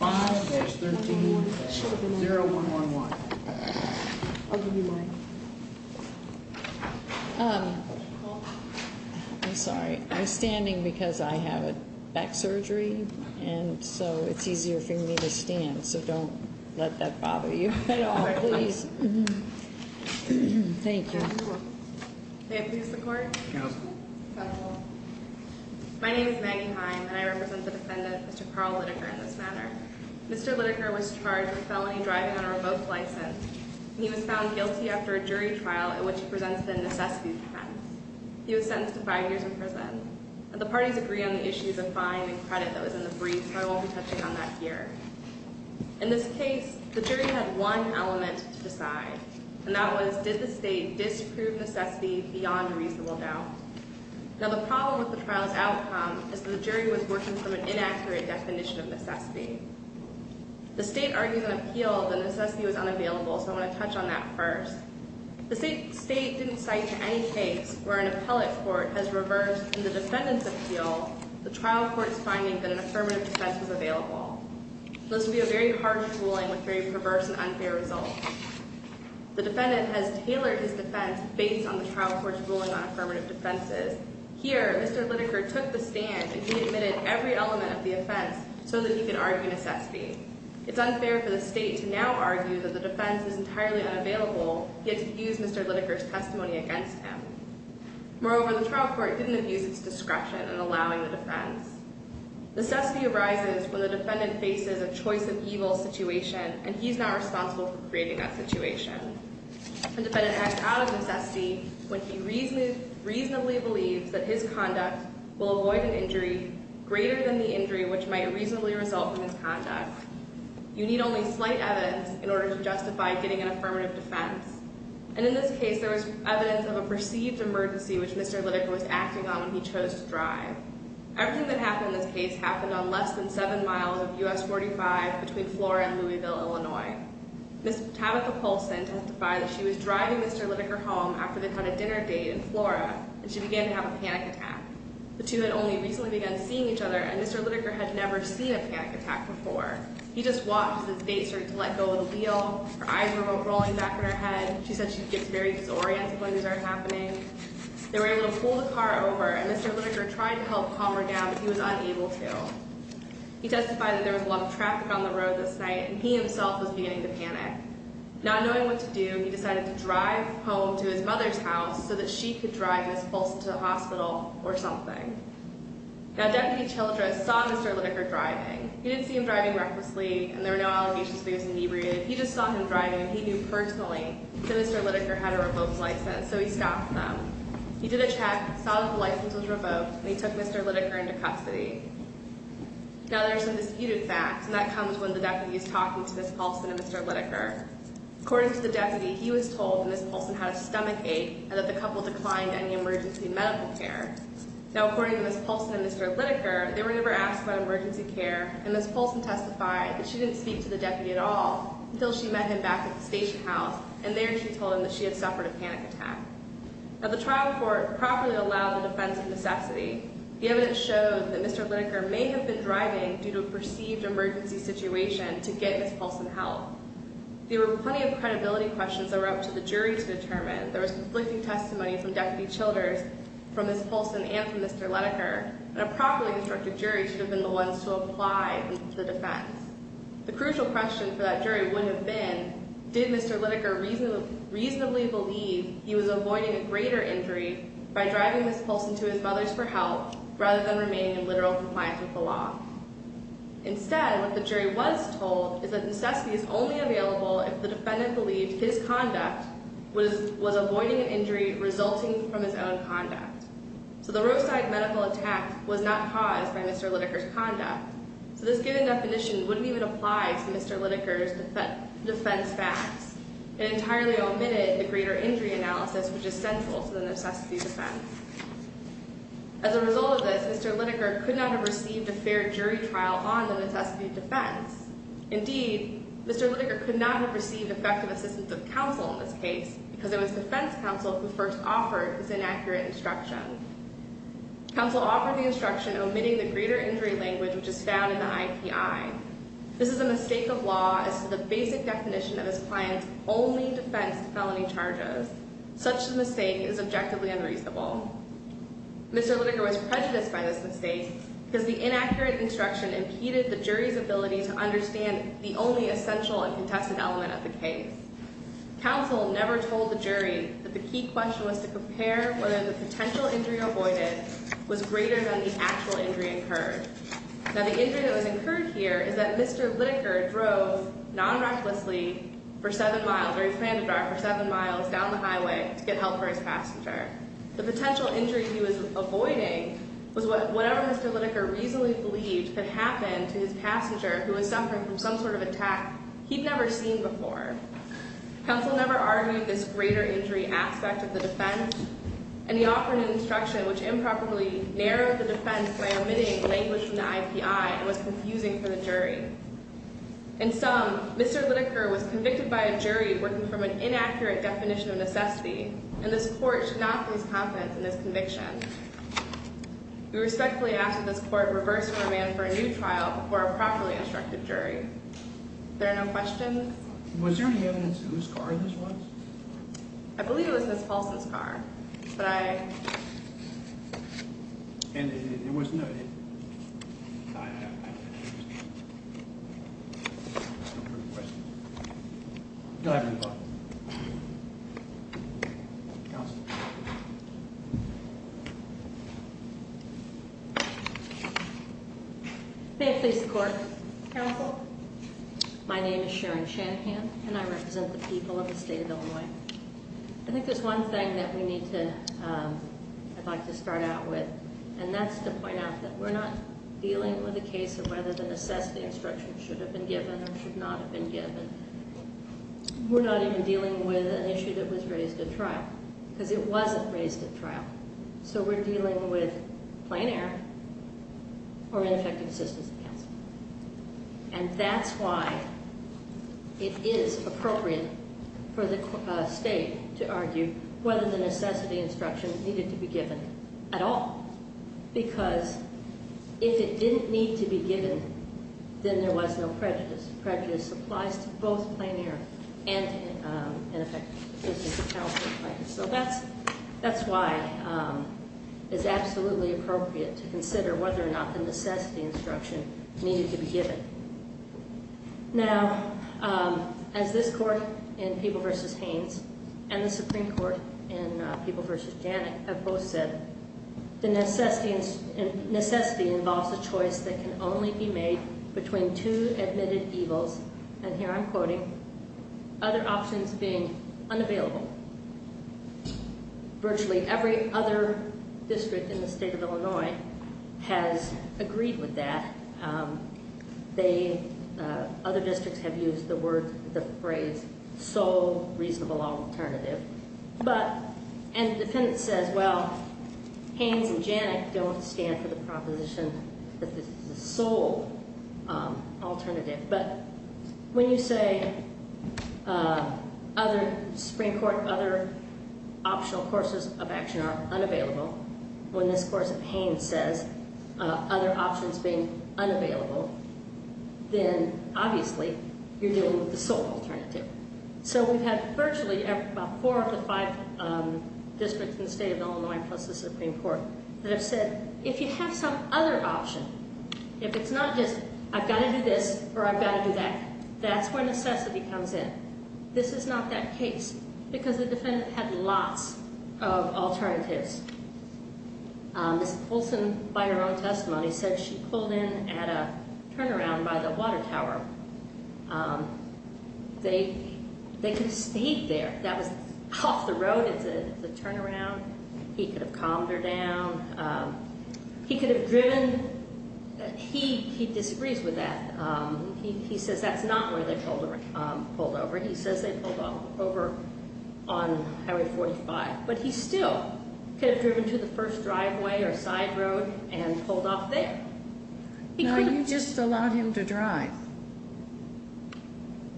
I'm sorry I'm standing because I have a back surgery and so it's easier for me to stand so don't let that bother you at all. Thank you. My name is Maggie Heim and I represent the defendant Mr. Carl Litaker in this manner. Mr. Litaker was charged with felony driving on a remote license. He was found guilty after a jury trial in which he presents the necessity defense. He was sentenced to five years in prison. The parties agree on the issues of fine and credit that was in the brief but I won't be touching on that here. In this case the jury had one element to decide and that was did the state disprove necessity beyond a reasonable doubt. Now the problem with the trial's outcome is that the jury was working from an inaccurate definition of necessity. The state argued in appeal that necessity was unavailable so I want to touch on that first. The state didn't cite to any case where an appellate court has reversed in the defendant's appeal the trial court's finding that an affirmative defense was available. This would be a very harsh ruling with very perverse and unfair results. The defendant has tailored his defense based on the trial court's ruling on affirmative defenses. Here Mr. Litaker took the stand and he admitted every element of the offense so that he could argue necessity. It's unfair for the state to now argue that the defense is entirely unavailable yet to use Mr. Litaker's testimony against him. Moreover the trial court didn't use its discretion in allowing the defense. Necessity arises when the defendant faces a choice of evil situation and he's not responsible for creating that situation. A defendant acts out of necessity when he reasonably believes that his conduct will avoid an injury greater than the injury which might reasonably result from his conduct. You need only slight evidence in order to justify getting an affirmative defense and in this case there was evidence of a perceived emergency which Mr. Litaker was acting on when he chose to drive. Everything that happened in this case happened on less than seven miles of US 45 between Flora and Louisville, Illinois. Ms. Tabitha Poulsen testified that she was driving Mr. Litaker home after they had a dinner date in Flora and she began to have a panic attack. The two had only recently begun seeing each other and Mr. Litaker had never seen a panic attack before. He just watched as his date started to let go of the wheel, her eyes were rolling back at her head, she said she gets very disoriented when things are happening. They were able to pull the car over and Mr. Litaker tried to help calm her down but he was unable to. He testified that there was a lot of traffic on the road this night and he himself was beginning to panic. Not knowing what to do, he decided to drive home to his mother's house so that she could drive Ms. Poulsen to the hospital or something. Now, Deputy Childress saw Mr. Litaker driving. He didn't see him driving recklessly and there were no allegations that he was inebriated. He just saw him driving and he knew personally that Mr. Litaker had a revoked license so he stopped them. He did a check, saw that the license was revoked and he took Mr. Litaker into custody. Now, there are some disputed facts and that comes when the deputy is talking to Ms. Poulsen and Mr. Litaker. According to the deputy, he was told that Ms. Poulsen had a stomach ache and that the couple declined any emergency medical care. Now, according to Ms. Poulsen and Mr. Litaker, they were never asked about anything at all until she met him back at the station house and there she told him that she had suffered a panic attack. Now, the trial court properly allowed the defense of necessity. The evidence showed that Mr. Litaker may have been driving due to a perceived emergency situation to get Ms. Poulsen help. There were plenty of credibility questions that were up to the jury to determine. There was conflicting testimony from Deputy Childress, from Ms. Poulsen and from Mr. Litaker and a properly instructed jury should have been the ones to apply the defense. The crucial question for that jury would have been, did Mr. Litaker reasonably believe he was avoiding a greater injury by driving Ms. Poulsen to his mother's for help rather than remaining in literal compliance with the law? Instead, what the jury was told is that necessity is only available if the defendant believed his conduct was avoiding an injury resulting from his own conduct. So, the roadside medical attack was not caused by Mr. Litaker's conduct. So, this given definition wouldn't even apply to Mr. Litaker's defense facts. It entirely omitted the greater injury analysis which is central to the necessity defense. As a result of this, Mr. Litaker could not have received a fair jury trial on the necessity defense. Indeed, Mr. Litaker could not have received effective assistance of counsel in this case because it was defense counsel who first offered this inaccurate instruction. Counsel offered the instruction omitting the greater injury language which is found in the IPI. This is a mistake of law as to the basic definition of his client's only defense to felony charges. Such a mistake is objectively unreasonable. Mr. Litaker was prejudiced by this mistake because the inaccurate instruction impeded the jury's ability to understand the only essential and contested element of the case. Counsel never told the jury that the key question was to compare whether the potential injury avoided was greater than the actual injury incurred. Now, the injury that was incurred here is that Mr. Litaker drove non-recklessly for seven miles or he planned to drive for seven miles down the highway to get help for his passenger. The potential injury he was avoiding was whatever Mr. Litaker reasonably believed could happen to his passenger who was suffering from some sort of attack he'd never seen before. Counsel never argued this greater injury aspect of the defense and he offered an instruction which improperly narrowed the defense by omitting language in the IPI and was confusing for the jury. In sum, Mr. Litaker was convicted by a jury working from an inaccurate definition of necessity and this court should not lose confidence in this conviction. We respectfully ask that this court reverse command for a new trial before a properly instructed jury. There are no questions? Was there any evidence of whose car this was? I believe it was Ms. Paulson's car, but I... And it was noted... I have no further questions. Go ahead, Mr. Litaker. May it please the court. Counsel? My name is Sharon Shanahan and I represent the people of the state of Illinois. I think there's one thing that we need to... I'd like to start out with and that's to point out that we're not dealing with a case of whether the necessity instruction should have been given or should not have been given. We're not even dealing with an issue that was raised at trial, because it wasn't raised at trial. So we're dealing with plain error or ineffective assistance of counsel. And that's why it is appropriate for the state to argue whether the necessity instruction needed to be given at all, because if it didn't need to be given, then there was no prejudice. Prejudice applies to both plain error and ineffective assistance of counsel. So that's why it's absolutely appropriate to consider whether or not the necessity instruction needed to be given. Now, as this court in People v. Haynes and the Supreme Court in People v. Janik have both said, the necessity involves a choice that can only be made between two admitted evils, and here I'm quoting, other options being unavailable. Virtually every other district in the state of Illinois has agreed with that. Other districts have used the word, the phrase sole reasonable alternative. But, and the defendant says, well, Haynes and Janik don't stand for the proposition that this is a sole alternative. But when you say other Supreme Court, other optional courses of action are unavailable, when this course of Haynes says other options being unavailable, then obviously you're dealing with the sole alternative. So we've had virtually about four of the five districts in the state of Illinois plus the Supreme Court that have said, if you have some other option, if it's not just I've got to do this or I've got to do that, that's where necessity comes in. This is not that she pulled in at a turnaround by the water tower. They could have stayed there. That was off the road. It's a turnaround. He could have calmed her down. He could have driven, he disagrees with that. He says that's not where they pulled over. He says they pulled over on Highway 45. But he still could have driven to the first driveway or side road and pulled off there. Now you just allowed him to drive.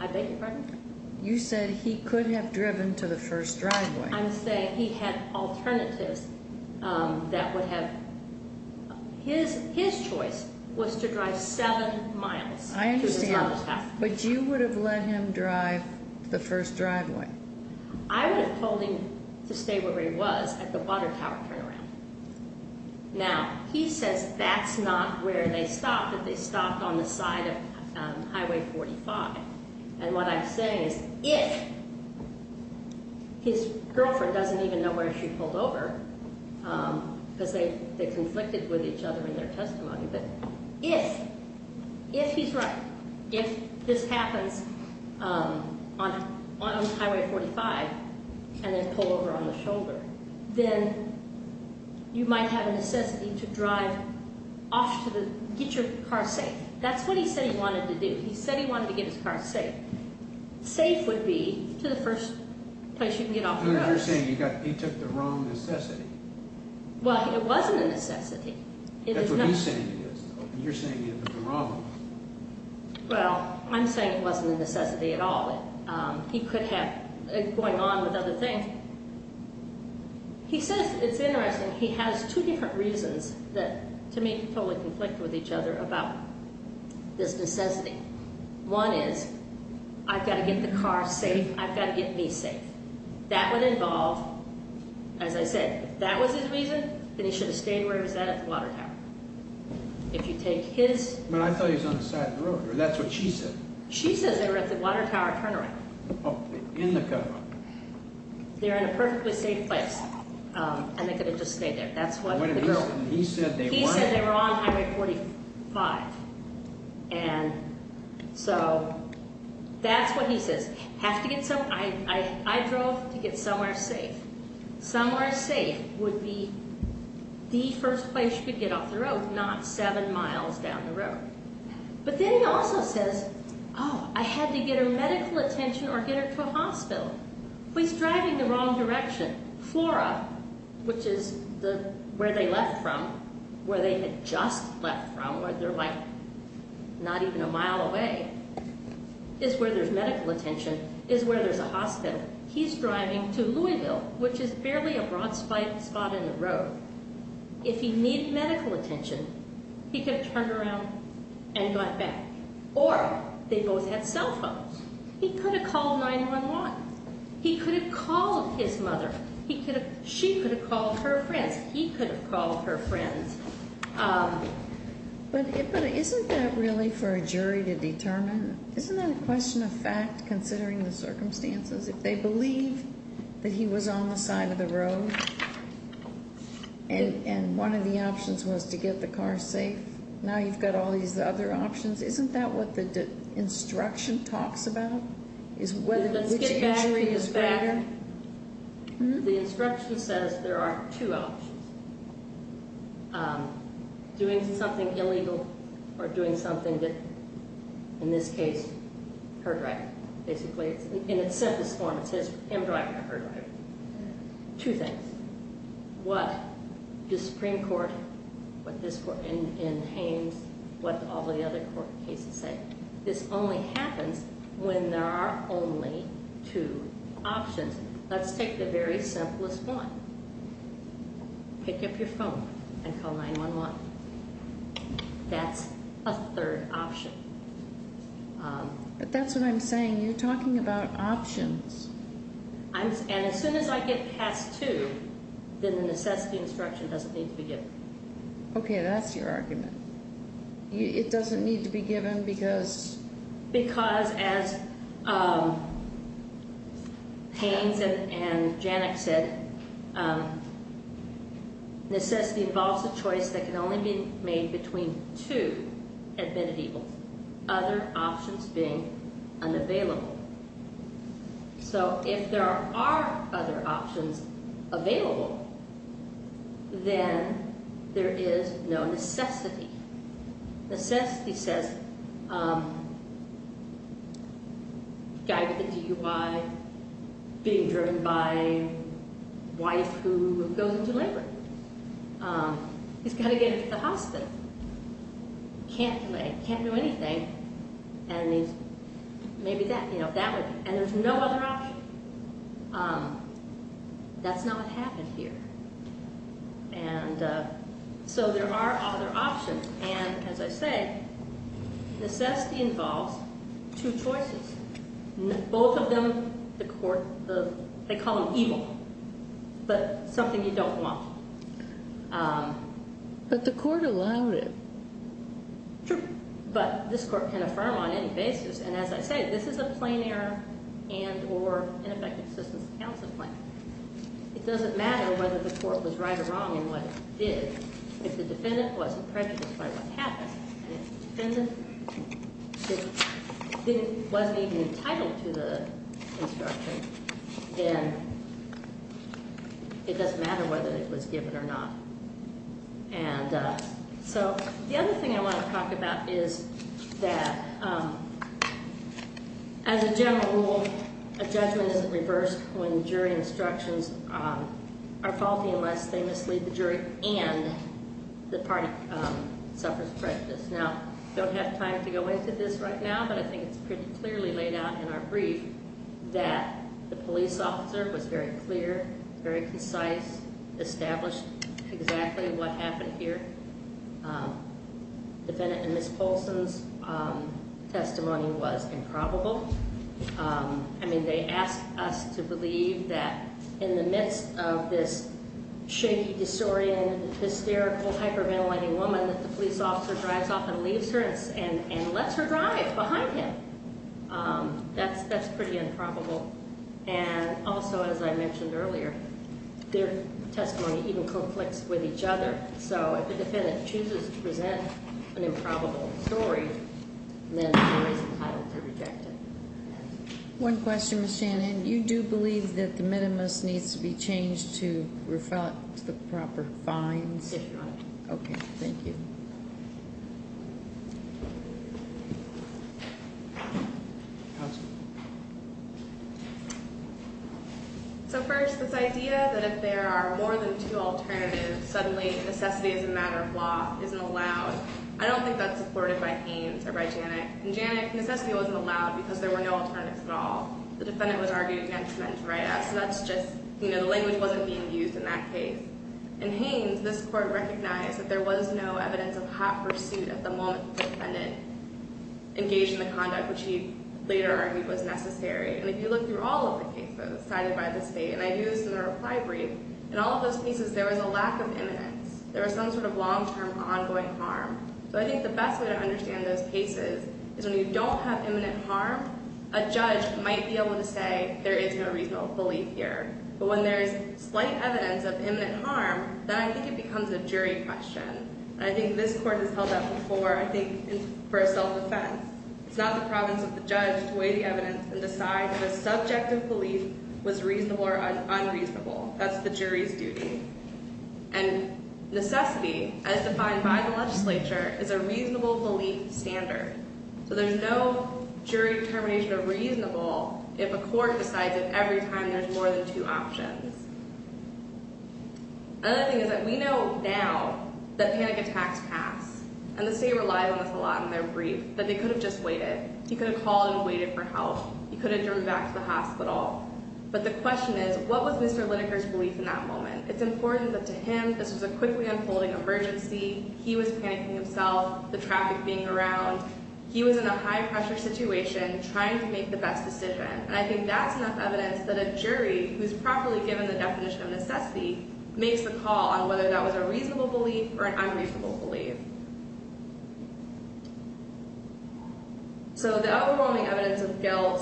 I beg your pardon? You said he could have driven to the first driveway. I'm saying he had alternatives that would have, his choice was to drive seven miles. I understand. But you would have let him drive to the first driveway. I would have told him to stay where he was at the water tower turnaround. Now he says that's not where they stopped, that they stopped on the side of Highway 45. And what I'm saying is if his girlfriend doesn't even know where she pulled over, because they conflicted with each other in their testimony, but if, if he's right, if this happens on Highway 45 and they pull over on the shoulder, then you might have a necessity to drive off to the, get your car safe. That's what he said he wanted to do. He said he wanted to get his car safe. Safe would be to the first place you can get off the road. You're saying he got, he took the wrong necessity. Well, it wasn't a necessity. That's what he's saying it is. You're saying he took the wrong one. Well, I'm saying it wasn't a necessity at all. He could have going on with other things. He says, it's interesting, he has two different reasons that to me totally conflict with each other about this necessity. One is I've got to get the car safe. I've got to get me safe. That would involve, as I said, if that was his reason, then he should have stayed where he was at at the water tower. If you take his... But I thought he was on the side of the road. That's what she said. She says they were at the water tower turn around. Oh, in the car. They're in a perfectly safe place and they could have just stayed there. That's what he said. He said they were on Highway 45. And so that's what he says. Have to get some, I, I, I drove to get somewhere safe. Somewhere safe would be the first place you could get off the road, not seven miles down the road. But then he also says, oh, I had to get her medical attention or get her to a hospital. He's driving the wrong direction. Flora, which is the, where they left from, where they had just left from, where they're like not even a mile away, is where there's medical attention, is where there's a hospital. He's driving to Louisville, which is barely a broad spot in the road. If he needed medical attention, he could have turned around and got back. Or they both had cell phones. He could have called 911. He could have called his mother. He could have, she could have called her friends. He could have called her friends. But isn't that really for a jury to determine? Isn't that a question of fact considering the circumstances? If they believe that he was on the side of the road and, and one of the options was to get the car safe, now you've got all these other options. Isn't that what the instruction talks about? Is whether, which entry is better? The instruction says there are two options. Doing something illegal or doing something that, in this case, her driver basically, in its sentence form, it says him driving or her driving. Two things. What does Supreme Court, what this court, and, and Haines, what all the other court cases say? This only happens when there are only two options. Let's take the very simplest one. Pick up your phone and call 911. That's a third option. But that's what I'm saying. You're talking about options. I'm, and as soon as I get past two, then the necessity instruction doesn't need to be given. Okay, that's your argument. It doesn't need to be given because? Because as Haines and, and Janik said, necessity involves a choice that can only be made between two admitted evils. Other options being unavailable. So if there are other options available, then there is no necessity. Necessity says guy with a DUI being driven by wife who goes into labor. He's got to get into the hospital. Can't delay, can't do anything. And he's, maybe that, you know, that would be, and there's no other option. That's not what happened here. And so there are other options. And as I said, necessity involves two choices. Both of them, the court, the, they call them in. Sure. But this court can affirm on any basis. And as I say, this is a plain error and or ineffective assistance counseling plan. It doesn't matter whether the court was right or wrong in what it did. If the defendant wasn't prejudiced by what happened and if the defendant didn't, wasn't even entitled to the instruction, then it doesn't matter whether it was given or not. And so the other thing I want to talk about is that as a general rule, a judgment isn't reversed when jury instructions are faulty unless they mislead the jury and the party suffers prejudice. Now, don't have time to go into this right now, but I think it's pretty clearly laid out in our brief that the police officer was very clear, very concise, established exactly what happened here. Defendant and Ms. Polson's testimony was improbable. I mean, they asked us to believe that in the midst of this shaky, disoriented, hysterical, hyperventilating woman that the police officer drives off and leaves her and lets her drive behind him. That's pretty improbable. And also, as I mentioned earlier, their testimony even conflicts with each other. So if the defendant chooses to present an improbable story, then the jury's entitled to reject it. One question, Ms. Shanahan. You do believe that the minimus needs to be changed to reflect the proper fines? Yes, Your Honor. Okay, thank you. So first, this idea that if there are more than two alternatives, suddenly necessity as a matter of law isn't allowed, I don't think that's supported by Haynes or by Janik. In Janik, necessity wasn't allowed because there were no alternatives at all. The defendant was arguing against men's write-outs, so that's just, you know, the language wasn't being used in that case. In Haynes, this Court recognized that there was no evidence of hot pursuit at the moment the defendant engaged in the conduct which he later argued was necessary. And if you look through all of the cases cited by the State, and I do this in a reply brief, in all of those cases there was a lack of imminence. There was some sort of long-term ongoing harm. So I think the best way to understand those cases is when you don't have imminent harm, a judge might be able to say there is no reasonable belief here. But when there is slight evidence of imminent harm, then I think it becomes a jury question. And I think this Court has held that before, I think, for a self-defense. It's not the province of the judge to weigh the evidence and decide if a subjective belief was reasonable or unreasonable. That's the jury's duty. And necessity, as defined by the legislature, is a reasonable belief standard. So there's no jury determination of reasonable if a court decides that every time there's more than two options. Another thing is that we know now that panic attacks pass. And the State relies on this a lot in their brief, that they could have just waited. He could have called and waited for help. He could have driven back to the hospital. But the question is, what was Mr. Lineker's belief in that moment? It's important that this was a quickly unfolding emergency. He was panicking himself, the traffic being around. He was in a high-pressure situation trying to make the best decision. And I think that's enough evidence that a jury, who's properly given the definition of necessity, makes the call on whether that was a reasonable belief or an unreasonable belief. So the overwhelming evidence of guilt,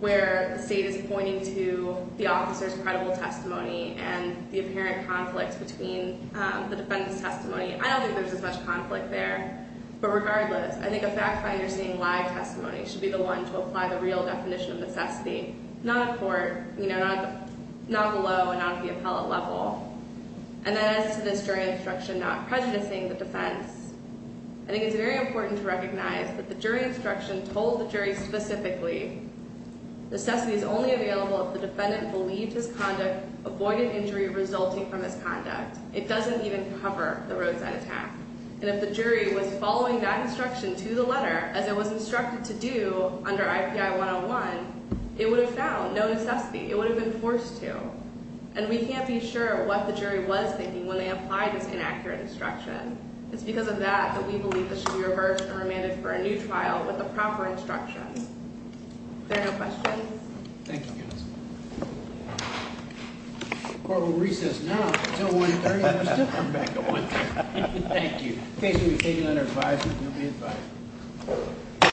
where the State is pointing to the officer's credible testimony and the apparent conflicts between the defendant's testimony, I don't think there's as much conflict there. But regardless, I think a fact finder seeing live testimony should be the one to apply the real definition of necessity, not a court, not below and not at the appellate level. And then as to this jury instruction not prejudicing the defense, I think it's very important to recognize that the jury instruction told the jury specifically necessity is only available if the defendant believed his conduct avoided injury resulting from his conduct. It doesn't even cover the roadside attack. And if the jury was following that instruction to the letter, as it was instructed to do under IPI 101, it would have found no necessity. It would have been forced to. And we can't be sure what the jury was thinking when they applied this inaccurate instruction. It's because of that that we There are no questions? Thank you, guys. Court will recess now until 1.30. Thank you.